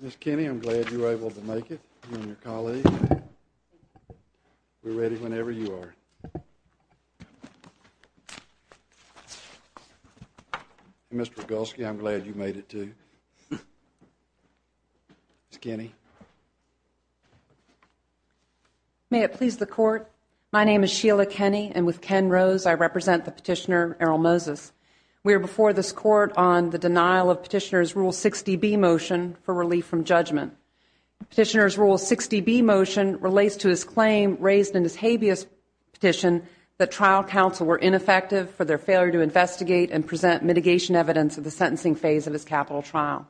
Ms. Kenney, I'm glad you were able to make it, you and your colleagues. We're ready whenever you are. Mr. Rogulski, I'm glad you made it too. Ms. Kenney. May it please the Court, my name is Sheila Kenney and with Ken Rose I represent the petitioner Errol Moses. We are before this Court on the denial of Petitioner's Rule 60B motion for relief from judgment. Petitioner's Rule 60B motion relates to his claim raised in his habeas petition that trial counsel were ineffective for their failure to investigate and present mitigation evidence of the sentencing phase of his capital trial.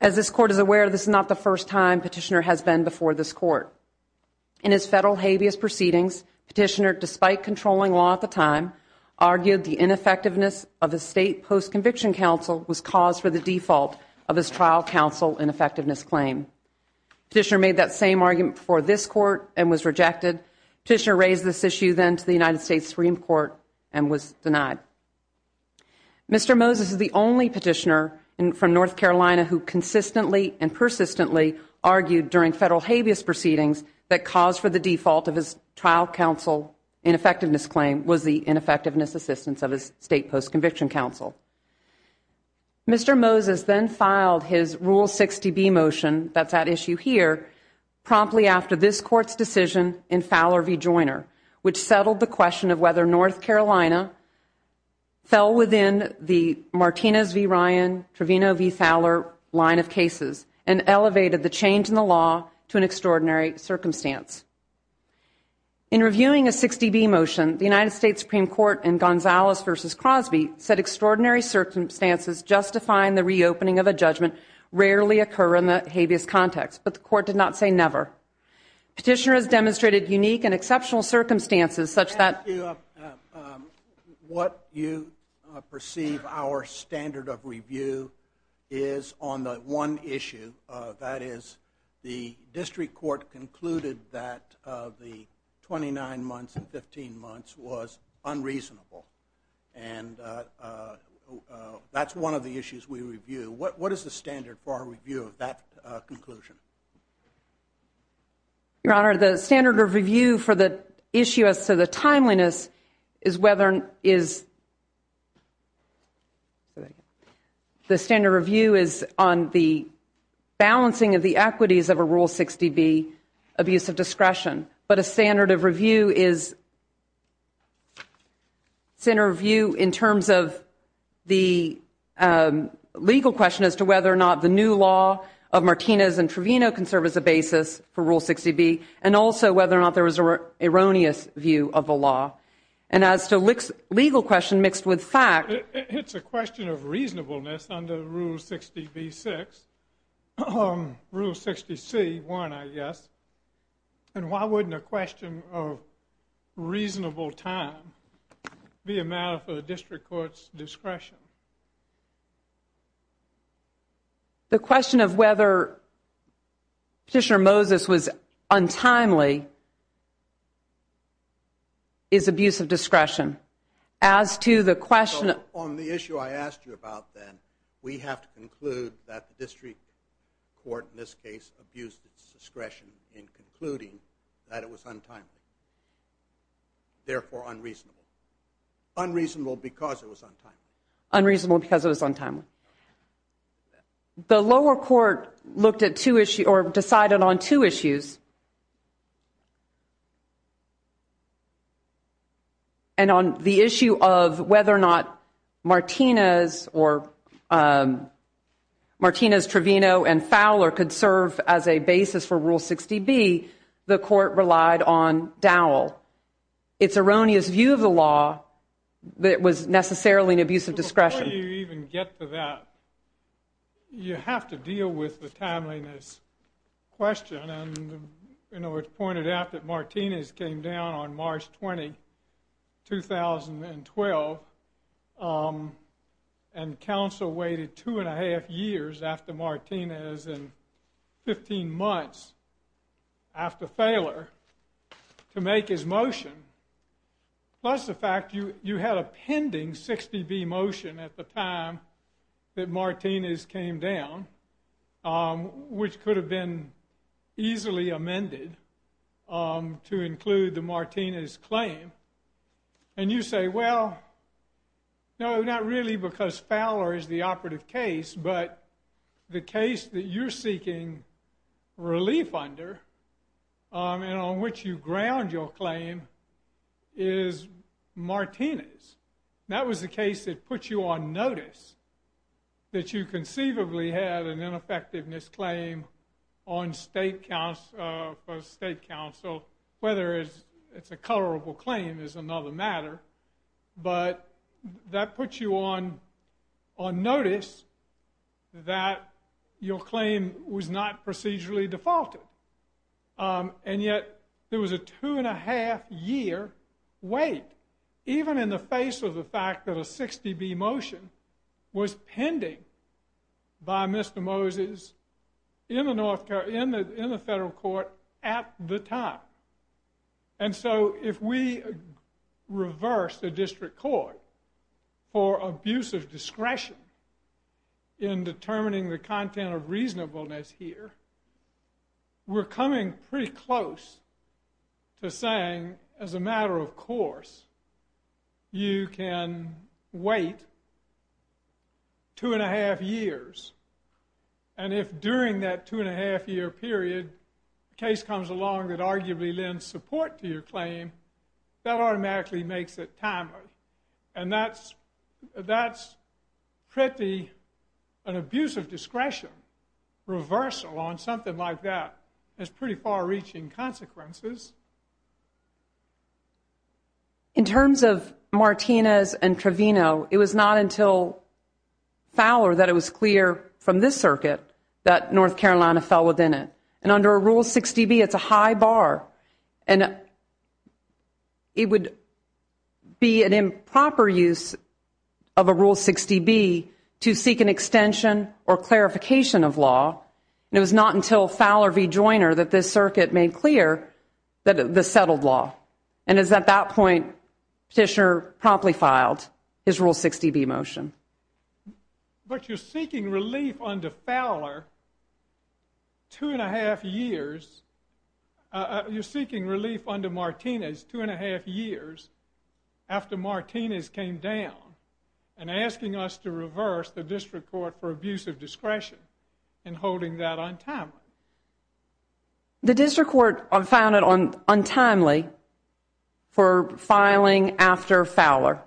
As this Court is aware, this is not the first time Petitioner has been before this Court. In his federal habeas proceedings, Petitioner, despite controlling law at the time, argued the ineffectiveness of his state post-conviction counsel was cause for the default of his trial counsel ineffectiveness claim. Petitioner made that same argument before this Court and was rejected. Petitioner raised this issue then to the United States Supreme Court and was denied. Mr. Moses is the only Petitioner from North Carolina who consistently and persistently argued during federal habeas proceedings that cause for the default of his trial counsel ineffectiveness claim was the ineffectiveness assistance of his state post-conviction counsel. Mr. Moses then filed his Rule 60B motion, that's that issue here, promptly after this Court's decision in Fowler v. Joyner, which settled the question of whether North Carolina should have a state post-conviction counsel, fell within the Martinez v. Ryan, Trevino v. Fowler line of cases and elevated the change in the law to an extraordinary circumstance. In reviewing a 60B motion, the United States Supreme Court in Gonzalez v. Crosby said extraordinary circumstances justifying the reopening of a judgment rarely occur in the habeas context, but the Court did not say never. Petitioner has demonstrated unique and exceptional circumstances such that... What you perceive our standard of review is on the one issue, that is, the District Court concluded that the 29 months and 15 months was unreasonable, and that's one of the issues we review. What is the standard for our review of that conclusion? Your Honor, the standard of review for the issue as to the timeliness is whether... The standard review is on the balancing of the equities of a Rule 60B abuse of discretion, but a standard of review is... The legal question as to whether or not the new law of Martinez and Trevino can serve as a basis for Rule 60B, and also whether or not there was an erroneous view of the law. And as to legal question mixed with fact... It's a question of reasonableness under Rule 60B-6, Rule 60C-1, I guess, and why wouldn't a question of reasonable time be a matter for the District Court's discretion? The question of whether Petitioner Moses was untimely is abuse of discretion. As to the question... On the issue I asked you about, then, we have to conclude that the District Court, in this case, abused its discretion in concluding that it was untimely. Therefore, unreasonable. Unreasonable because it was untimely. The lower court decided on two issues. And on the issue of whether or not Martinez, Trevino, and Fowler could serve as a basis for Rule 60B, the court relied on Dowell. Its erroneous view of the law was necessarily an abuse of discretion. Before you even get to that, you have to deal with the timeliness question. It's pointed out that Martinez came down on March 20, 2012, and counsel waited two-and-a-half years after Martinez in 15 months. After Fowler, to make his motion. Plus the fact you had a pending 60B motion at the time that Martinez came down, which could have been easily amended to include the Martinez claim. And you say, well, no, not really because Fowler is the operative case, but the case that you're seeking relief under, and on which you ground your claim, is Martinez. That was the case that put you on notice that you conceivably had an ineffectiveness claim on state counsel, whether it's a colorable claim is another matter. But that puts you on notice that your claim was not procedurally defaulted. And yet there was a two-and-a-half-year wait, even in the face of the fact that a 60B motion was pending by Mr. Moses in the federal court at the time. And so if we reverse the district court for abusive discretion in determining the content of reasonableness here, we're coming pretty close to saying, as a matter of course, you can wait two-and-a-half years. And if during that two-and-a-half-year period a case comes along that arguably lends support to your claim, that automatically makes it timely. And that's pretty, an abusive discretion reversal on something like that has pretty far-reaching consequences. In terms of Martinez and Trevino, it was not until Fowler that it was clear from this circuit that North Carolina fell within it. And under a Rule 60B, it's a high bar. And it would be an improper use of a Rule 60B to seek an extension or clarification of law. And it was not until Fowler v. Joiner that this circuit made clear the settled law. And it was at that point Petitioner promptly filed his Rule 60B motion. But you're seeking relief under Fowler two-and-a-half years. You're seeking relief under Martinez two-and-a-half years after Martinez came down and asking us to reverse the District Court for abusive discretion and holding that untimely. The District Court found it untimely for filing after Fowler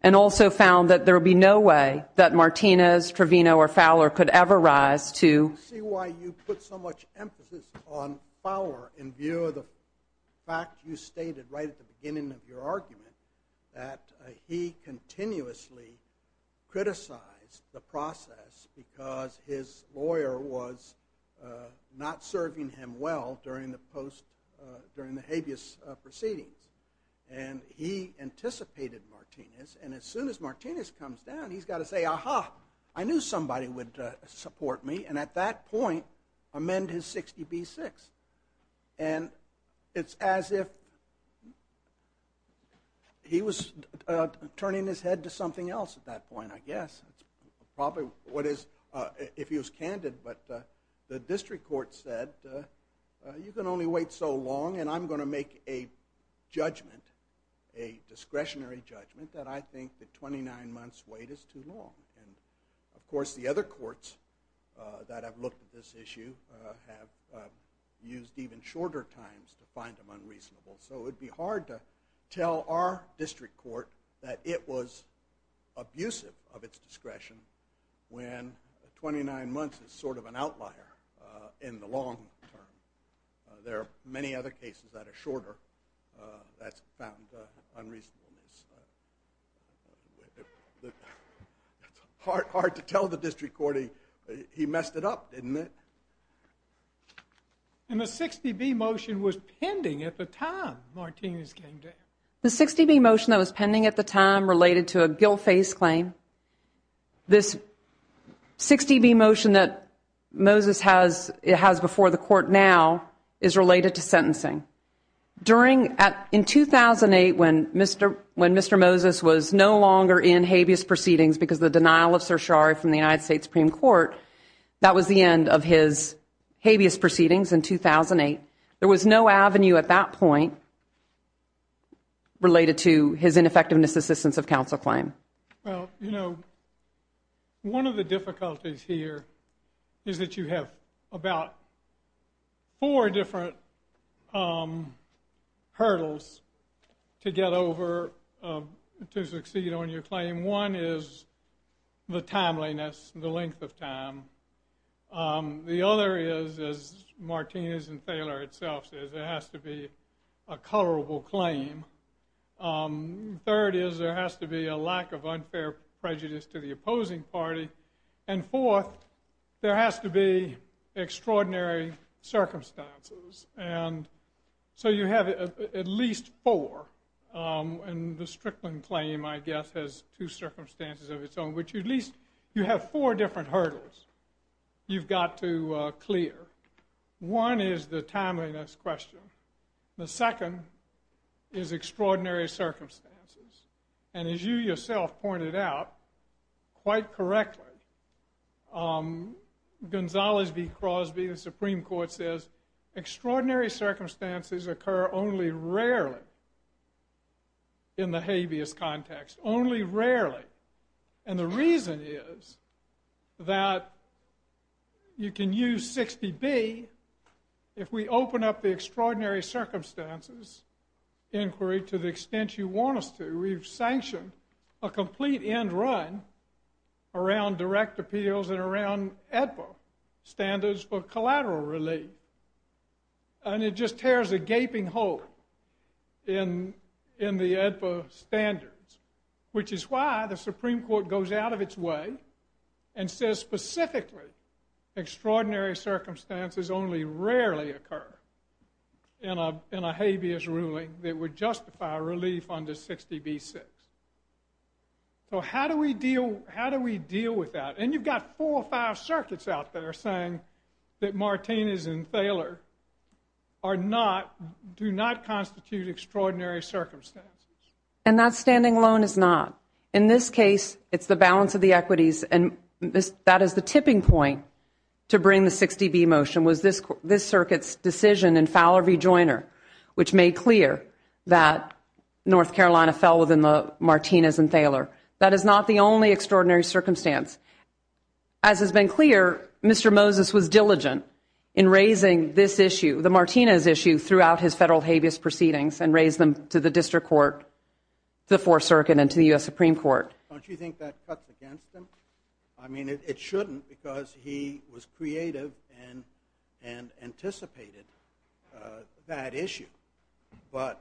and also found that there would be no way that Martinez, Trevino, or Fowler could ever rise to... I see why you put so much emphasis on Fowler in view of the fact you stated right at the beginning of your argument that he continuously criticized the process because his lawyer was not serving him well during the habeas proceedings. And he anticipated Martinez. And as soon as Martinez comes down, he's got to say, Aha! I knew somebody would support me. And at that point, amend his 60B-6. And it's as if he was turning his head to something else at that point, I guess. Probably what is... if he was candid, but the District Court said, You can only wait so long and I'm going to make a judgment, a discretionary judgment, that I think the 29 months' wait is too long. And, of course, the other courts that have looked at this issue have used even shorter times to find them unreasonable. So it would be hard to tell our District Court that it was abusive of its discretion when 29 months is sort of an outlier in the long term. There are many other cases that are shorter that have found unreasonableness. It's hard to tell the District Court he messed it up, didn't it? And the 60B motion was pending at the time Martinez came down. The 60B motion that was pending at the time related to a Gilface claim. This 60B motion that Moses has before the court now is related to sentencing. In 2008 when Mr. Moses was no longer in habeas proceedings because of the denial of certiorari from the United States Supreme Court, that was the end of his habeas proceedings in 2008. There was no avenue at that point related to his ineffectiveness assistance of counsel claim. Well, you know, one of the difficulties here is that you have about four different hurdles to get over to succeed on your claim. One is the timeliness, the length of time. The other is, as Martinez and Thaler itself says, it has to be a colorable claim. Third is there has to be a lack of unfair prejudice to the opposing party. And fourth, there has to be extraordinary circumstances. And so you have at least four. And the Strickland claim, I guess, has two circumstances of its own, which at least you have four different hurdles you've got to clear. One is the timeliness question. The second is extraordinary circumstances. And as you yourself pointed out quite correctly, Gonzalez v. Crosby, the Supreme Court says, extraordinary circumstances occur only rarely in the habeas context. Only rarely. And the reason is that you can use 60B, if we open up the extraordinary circumstances inquiry to the extent you want us to, we've sanctioned a complete end run around direct appeals and around AEDPA standards for collateral relief. And it just tears a gaping hole in the AEDPA standards, which is why the Supreme Court goes out of its way and says specifically, extraordinary circumstances only rarely occur in a habeas ruling that would justify relief under 60B-6. So how do we deal with that? And you've got four or five circuits out there saying that Martinez and Thaler do not constitute extraordinary circumstances. And that standing alone is not. In this case, it's the balance of the equities, and that is the tipping point to bring the 60B motion, was this circuit's decision in Fowler v. Joyner, which made clear that North Carolina fell within the Martinez and Thaler. That is not the only extraordinary circumstance. As has been clear, Mr. Moses was diligent in raising this issue, the Martinez issue, throughout his federal habeas proceedings and raised them to the district court, the fourth circuit, and to the U.S. Supreme Court. Don't you think that cuts against him? I mean, it shouldn't because he was creative and anticipated that issue. But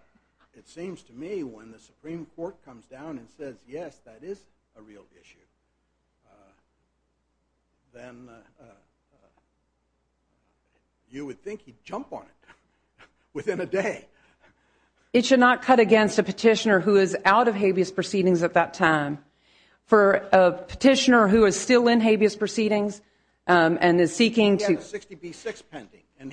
it seems to me when the Supreme Court comes down and says, yes, that is a real issue, then you would think he'd jump on it within a day. It should not cut against a petitioner who is out of habeas proceedings at that time. For a petitioner who is still in habeas proceedings and is seeking to- He has a 60B-6 pending, and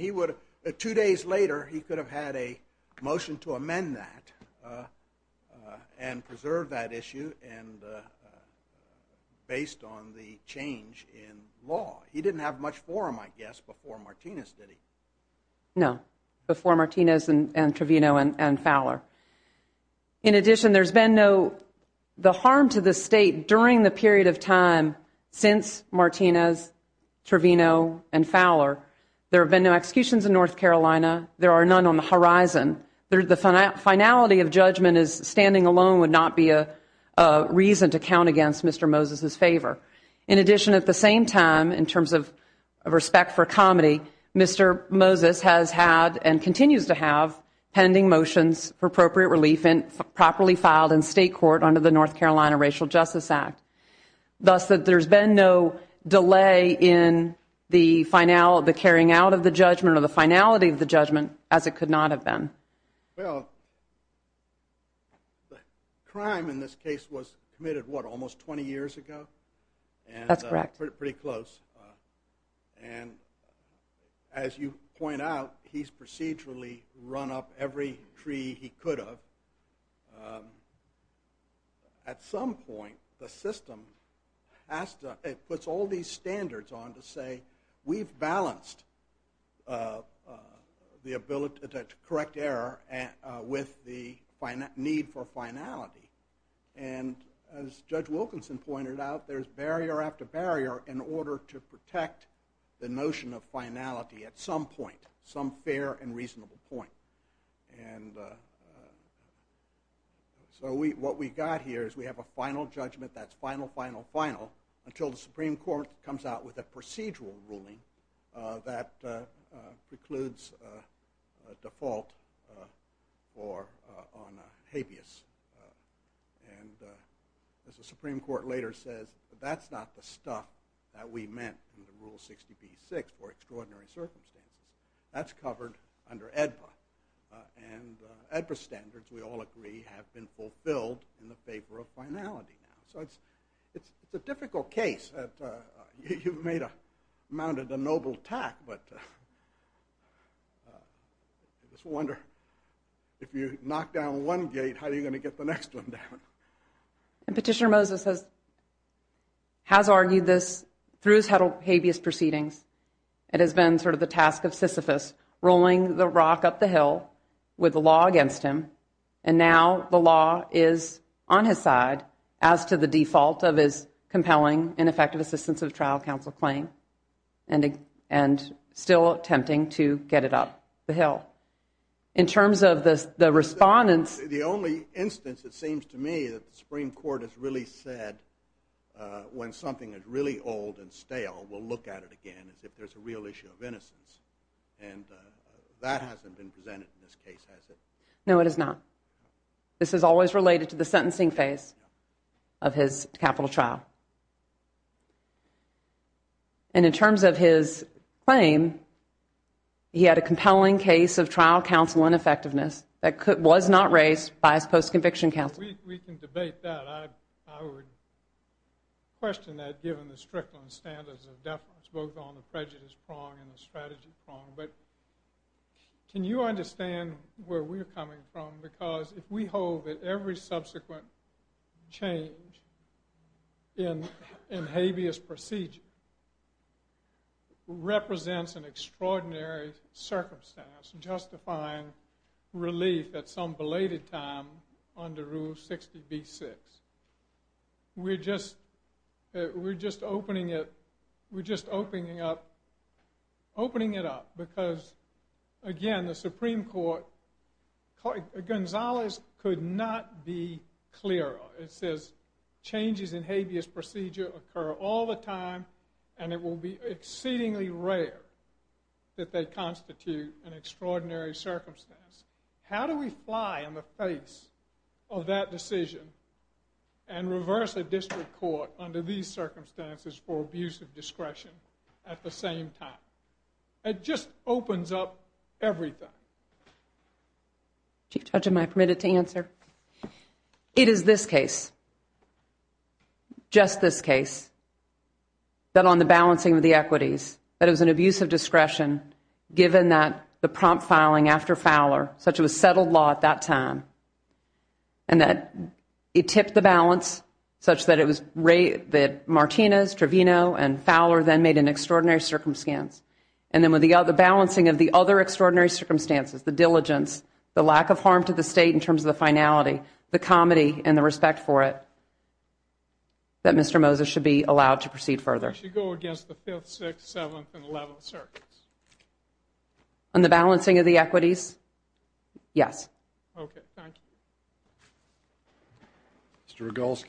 two days later he could have had a motion to amend that and preserve that issue based on the change in law. He didn't have much forum, I guess, before Martinez, did he? No, before Martinez and Trevino and Fowler. In addition, there's been no harm to the state during the period of time since Martinez, Trevino, and Fowler. There have been no executions in North Carolina. There are none on the horizon. The finality of judgment as standing alone would not be a reason to count against Mr. Moses' favor. In addition, at the same time, in terms of respect for comedy, Mr. Moses has had and continues to have pending motions for appropriate relief and properly filed in state court under the North Carolina Racial Justice Act. Thus, there's been no delay in the carrying out of the judgment or the finality of the judgment as it could not have been. Well, the crime in this case was committed, what, almost 20 years ago? That's correct. Pretty close. And as you point out, he's procedurally run up every tree he could have. At some point, the system puts all these standards on to say, we've balanced the ability to correct error with the need for finality. And as Judge Wilkinson pointed out, there's barrier after barrier in order to protect the notion of finality at some point, some fair and reasonable point. And so what we've got here is we have a final judgment that's final, final, final, until the Supreme Court comes out with a procedural ruling that precludes default on habeas. And as the Supreme Court later says, that's not the stuff that we meant in the Rule 60b-6 for extraordinary circumstances. That's covered under AEDPA. And AEDPA standards, we all agree, have been fulfilled in the favor of finality now. So it's a difficult case. You've mounted a noble tack, but I just wonder, if you knock down one gate, how are you going to get the next one down? And Petitioner Moses has argued this through his habeas proceedings. It has been sort of the task of Sisyphus, rolling the rock up the hill with the law against him, and now the law is on his side as to the default of his compelling and effective assistance of trial counsel claim, and still attempting to get it up the hill. In terms of the respondents. The only instance, it seems to me, that the Supreme Court has really said when something is really old and stale, we'll look at it again as if there's a real issue of innocence. And that hasn't been presented in this case, has it? No, it has not. This is always related to the sentencing phase of his capital trial. And in terms of his claim, he had a compelling case of trial counsel ineffectiveness that was not raised by his post-conviction counsel. We can debate that. I would question that, given the strict standards of definite, both on the prejudice prong and the strategy prong. But can you understand where we're coming from? Because if we hold that every subsequent change in habeas procedure represents an extraordinary circumstance justifying relief at some belated time under Rule 60b-6, we're just opening it up. Because, again, the Supreme Court, Gonzalez could not be clearer. It says changes in habeas procedure occur all the time, and it will be exceedingly rare that they constitute an extraordinary circumstance. How do we fly in the face of that decision and reverse the district court under these circumstances for abuse of discretion at the same time? It just opens up everything. Chief Judge, am I permitted to answer? It is this case, just this case, that on the balancing of the equities, that it was an abuse of discretion given that the prompt filing after Fowler, such it was settled law at that time, and that it tipped the balance such that Martinez, Trevino, and Fowler then made an extraordinary circumstance. And then with the balancing of the other extraordinary circumstances, the diligence, the lack of harm to the State in terms of the finality, the comedy and the respect for it, that Mr. Moses should be allowed to proceed further. He should go against the 5th, 6th, 7th, and 11th circuits. On the balancing of the equities? Yes. Okay, thank you. Mr. Rogulski.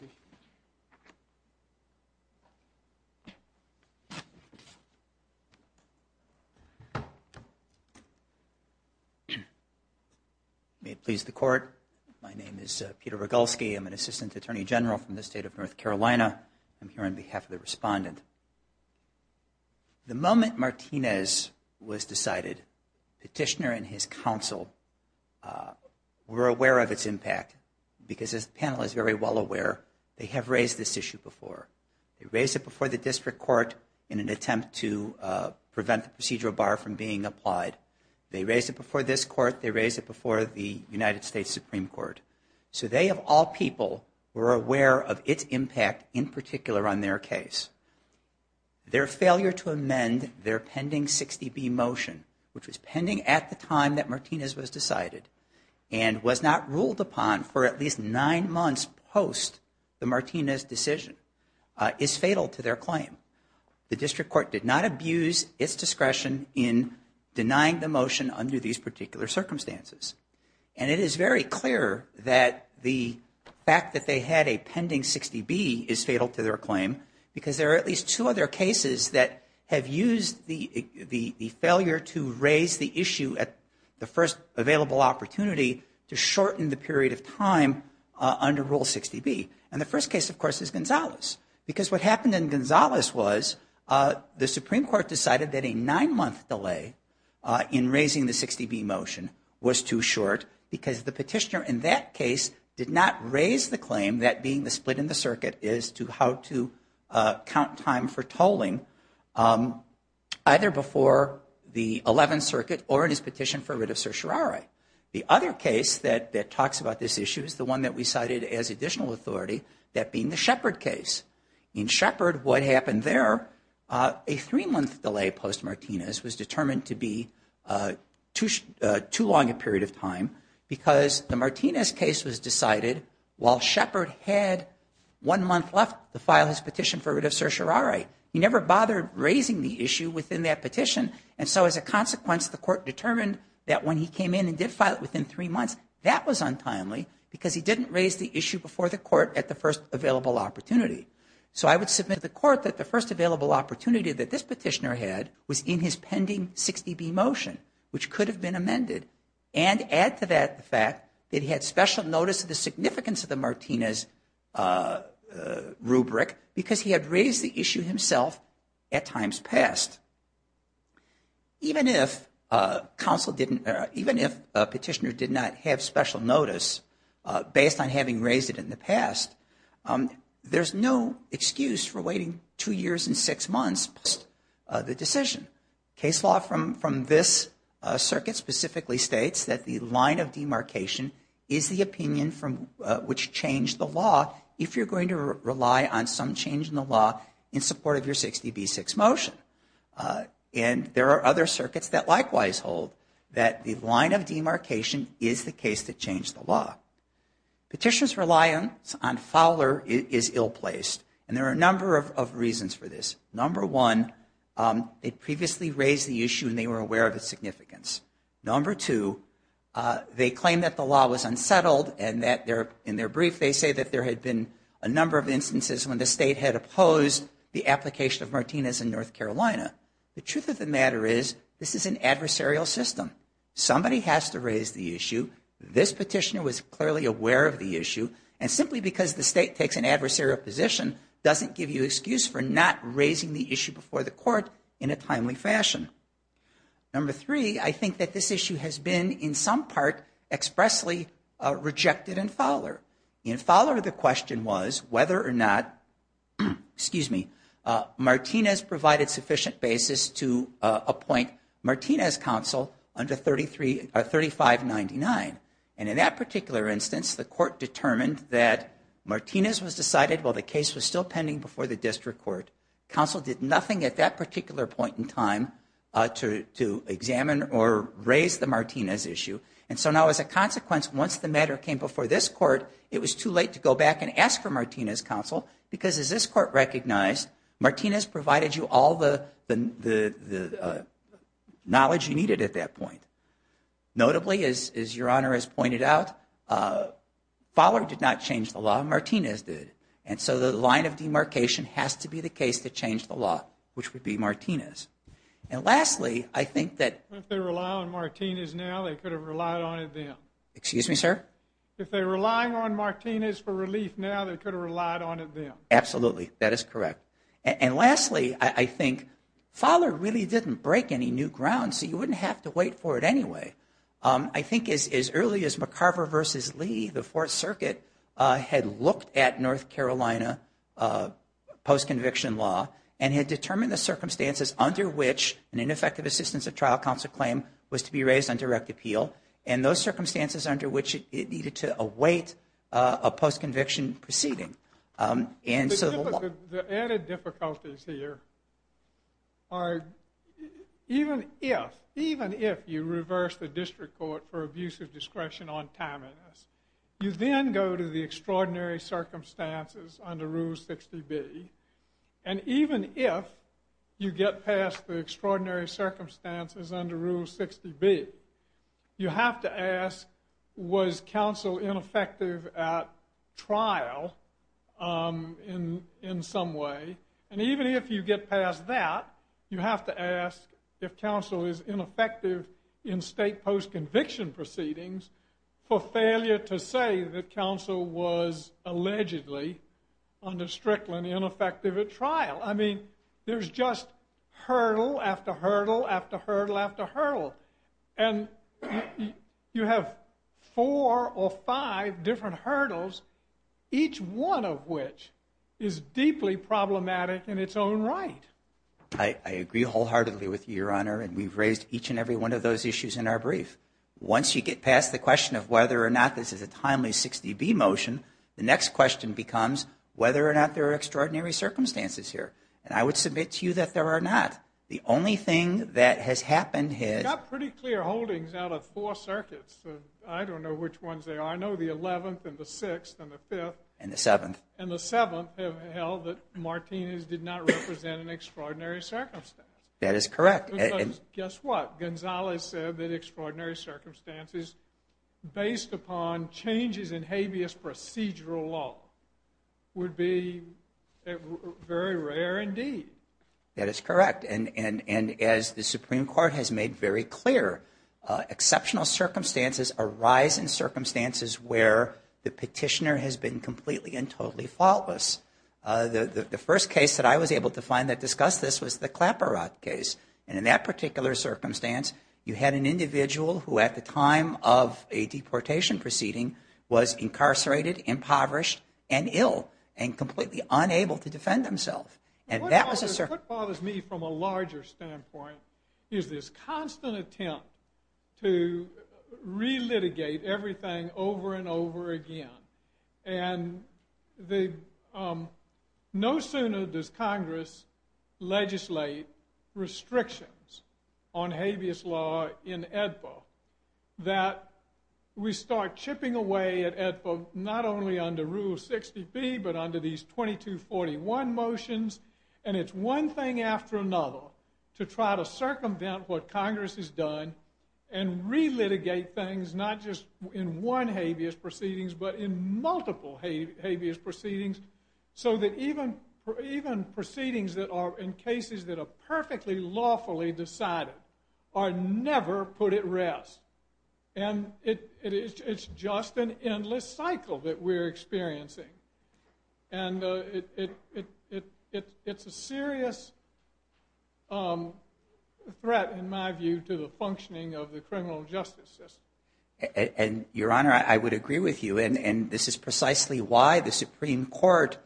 May it please the Court, my name is Peter Rogulski. I'm an Assistant Attorney General from the State of North Carolina. I'm here on behalf of the respondent. The moment Martinez was decided, Petitioner and his counsel were aware of its impact because, as the panel is very well aware, they have raised this issue before. They raised it before the district court in an attempt to prevent the procedural bar from being applied. They raised it before this court. They raised it before the United States Supreme Court. So they, of all people, were aware of its impact in particular on their case. Their failure to amend their pending 60B motion, which was pending at the time that Martinez was decided and was not ruled upon for at least nine months post the Martinez decision, is fatal to their claim. The district court did not abuse its discretion in denying the motion under these particular circumstances. And it is very clear that the fact that they had a pending 60B is fatal to their claim because there are at least two other cases that have used the failure to raise the issue at the first available opportunity to shorten the period of time under Rule 60B. And the first case, of course, is Gonzalez. Because what happened in Gonzalez was the Supreme Court decided that a nine-month delay in raising the 60B motion was too short because the petitioner in that case did not raise the claim that being the split in the circuit is to how to count time for tolling either before the 11th Circuit or in his petition for writ of certiorari. The other case that talks about this issue is the one that we cited as additional authority, that being the Shepherd case. In Shepherd, what happened there, a three-month delay post Martinez was determined to be too long a period of time because the Martinez case was decided while Shepherd had one month left to file his petition for writ of certiorari. He never bothered raising the issue within that petition. And so as a consequence, the court determined that when he came in and did file it within three months, that was untimely because he didn't raise the issue before the court at the first available opportunity. So I would submit to the court that the first available opportunity that this petitioner had was in his pending 60B motion, which could have been amended, and add to that the fact that he had special notice of the significance of the Martinez rubric because he had raised the issue himself at times past. Even if a petitioner did not have special notice based on having raised it in the past, there's no excuse for waiting two years and six months post the decision. Case law from this circuit specifically states that the line of demarcation is the opinion which changed the law if you're going to rely on some change in the law in support of your 60B6 motion. And there are other circuits that likewise hold that the line of demarcation is the case that changed the law. Petitioners' reliance on Fowler is ill-placed, and there are a number of reasons for this. Number one, it previously raised the issue and they were aware of its significance. Number two, they claim that the law was unsettled and that in their brief they say that there had been a number of instances when the state had opposed the application of Martinez in North Carolina. The truth of the matter is this is an adversarial system. Somebody has to raise the issue. This petitioner was clearly aware of the issue. And simply because the state takes an adversarial position doesn't give you an excuse for not raising the issue before the court in a timely fashion. Number three, I think that this issue has been in some part expressly rejected in Fowler. In Fowler, the question was whether or not Martinez provided sufficient basis to appoint Martinez counsel under 3599. And in that particular instance, the court determined that Martinez was decided while the case was still pending before the district court. Counsel did nothing at that particular point in time to examine or raise the Martinez issue. And so now as a consequence, once the matter came before this court, it was too late to go back and ask for Martinez counsel because as this court recognized, Martinez provided you all the knowledge you needed at that point. Notably, as Your Honor has pointed out, Fowler did not change the law. Martinez did. And so the line of demarcation has to be the case to change the law, which would be Martinez. And lastly, I think that- If they rely on Martinez now, they could have relied on it then. Excuse me, sir? If they're relying on Martinez for relief now, they could have relied on it then. Absolutely. That is correct. And lastly, I think Fowler really didn't break any new ground, so you wouldn't have to wait for it anyway. I think as early as McCarver v. Lee, the Fourth Circuit had looked at North Carolina post-conviction law and had determined the circumstances under which an ineffective assistance of trial counsel claim was to be raised on direct appeal and those circumstances under which it needed to await a post-conviction proceeding. The added difficulties here are even if you reverse the district court for abuse of discretion on timeliness, you then go to the extraordinary circumstances under Rule 60B, and even if you get past the extraordinary circumstances under Rule 60B, you have to ask, was counsel ineffective at trial in some way? And even if you get past that, you have to ask if counsel is ineffective in state post-conviction proceedings for failure to say that counsel was allegedly, under Strickland, ineffective at trial. I mean, there's just hurdle after hurdle after hurdle after hurdle. And you have four or five different hurdles, each one of which is deeply problematic in its own right. I agree wholeheartedly with you, Your Honor, and we've raised each and every one of those issues in our brief. Once you get past the question of whether or not this is a timely 60B motion, the next question becomes whether or not there are extraordinary circumstances here. And I would submit to you that there are not. The only thing that has happened is— We've got pretty clear holdings out of four circuits. I don't know which ones they are. I know the 11th and the 6th and the 5th. And the 7th. And the 7th have held that Martinez did not represent an extraordinary circumstance. That is correct. Because guess what? Gonzalez said that extraordinary circumstances based upon changes in habeas procedural law would be very rare indeed. That is correct. And as the Supreme Court has made very clear, exceptional circumstances arise in circumstances where the petitioner has been completely and totally faultless. The first case that I was able to find that discussed this was the Clapper Rock case. And in that particular circumstance, you had an individual who at the time of a deportation proceeding was incarcerated, impoverished, and ill and completely unable to defend himself. And that was a— What bothers me from a larger standpoint is this constant attempt to re-litigate everything over and over again. And no sooner does Congress legislate restrictions on habeas law in AEDPA that we start chipping away at AEDPA not only under Rule 60B but under these 2241 motions. And it's one thing after another to try to circumvent what Congress has done and re-litigate things not just in one habeas proceedings but in multiple habeas proceedings so that even proceedings that are in cases that are perfectly lawfully decided are never put at rest. And it's just an endless cycle that we're experiencing. And it's a serious threat in my view to the functioning of the criminal justice system. And, Your Honor, I would agree with you. And this is precisely why the Supreme Court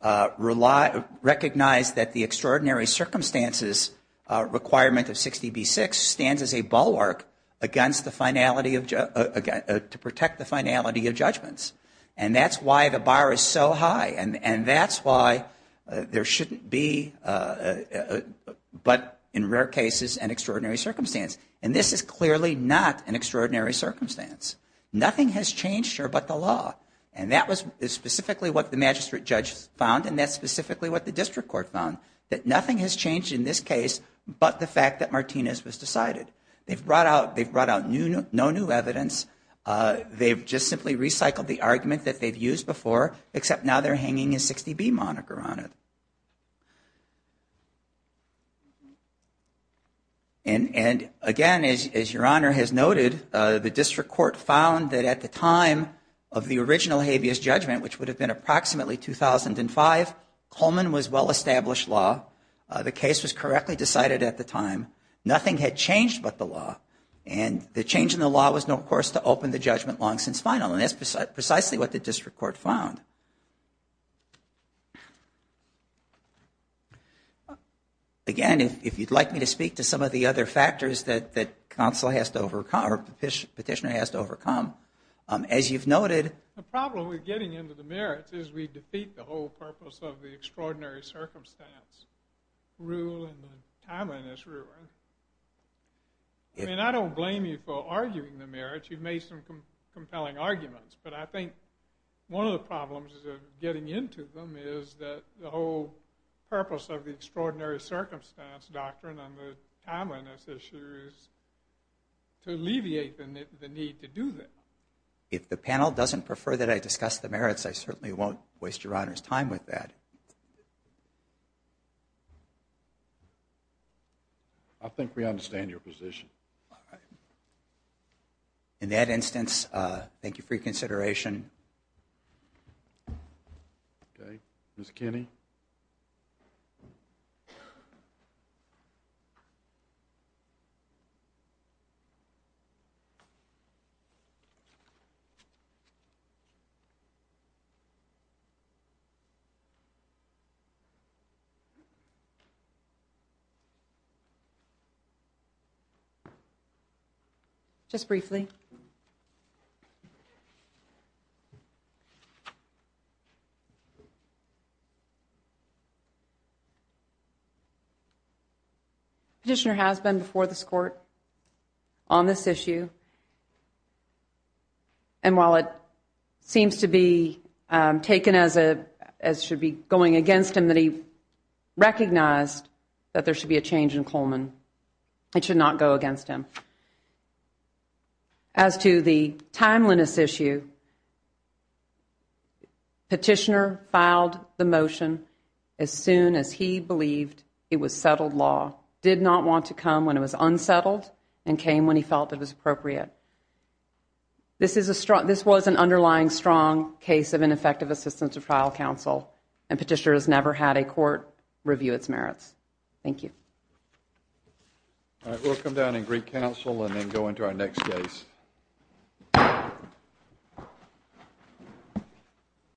recognized that the extraordinary circumstances requirement of 60B-6 stands as a bulwark against the finality of—to protect the finality of judgments. And that's why the bar is so high. And that's why there shouldn't be, but in rare cases, an extraordinary circumstance. And this is clearly not an extraordinary circumstance. Nothing has changed here but the law. And that was specifically what the magistrate judge found, and that's specifically what the district court found, that nothing has changed in this case but the fact that Martinez was decided. They've brought out no new evidence. They've just simply recycled the argument that they've used before, except now they're hanging a 60B moniker on it. And, again, as Your Honor has noted, the district court found that at the time of the original habeas judgment, which would have been approximately 2005, Coleman was well-established law. The case was correctly decided at the time. Nothing had changed but the law. And the change in the law was, of course, to open the judgment long since final. And that's precisely what the district court found. Again, if you'd like me to speak to some of the other factors that counsel has to overcome or petitioner has to overcome, as you've noted. The problem with getting into the merits is we defeat the whole purpose of the extraordinary circumstance rule and the timeliness rule. I mean, I don't blame you for arguing the merits. You've made some compelling arguments. But I think one of the problems of getting into them is that the whole purpose of the extraordinary circumstance doctrine and the timeliness issue is to alleviate the need to do that. If the panel doesn't prefer that I discuss the merits, I certainly won't waste Your Honor's time with that. Thank you. I think we understand your position. In that instance, thank you for your consideration. Thank you, Your Honor. Okay. Ms. Kinney. Ms. Kinney. Petitioner has been before this court on this issue. And while it seems to be taken as it should be going against him, that he recognized that there should be a change in Coleman. It should not go against him. As to the timeliness issue, Petitioner filed the motion as soon as he believed it was settled law, did not want to come when it was unsettled, and came when he felt it was appropriate. This was an underlying strong case of ineffective assistance of trial counsel, and Petitioner has never had a court review its merits. Thank you. All right. We'll come down and greet counsel and then go into our next case.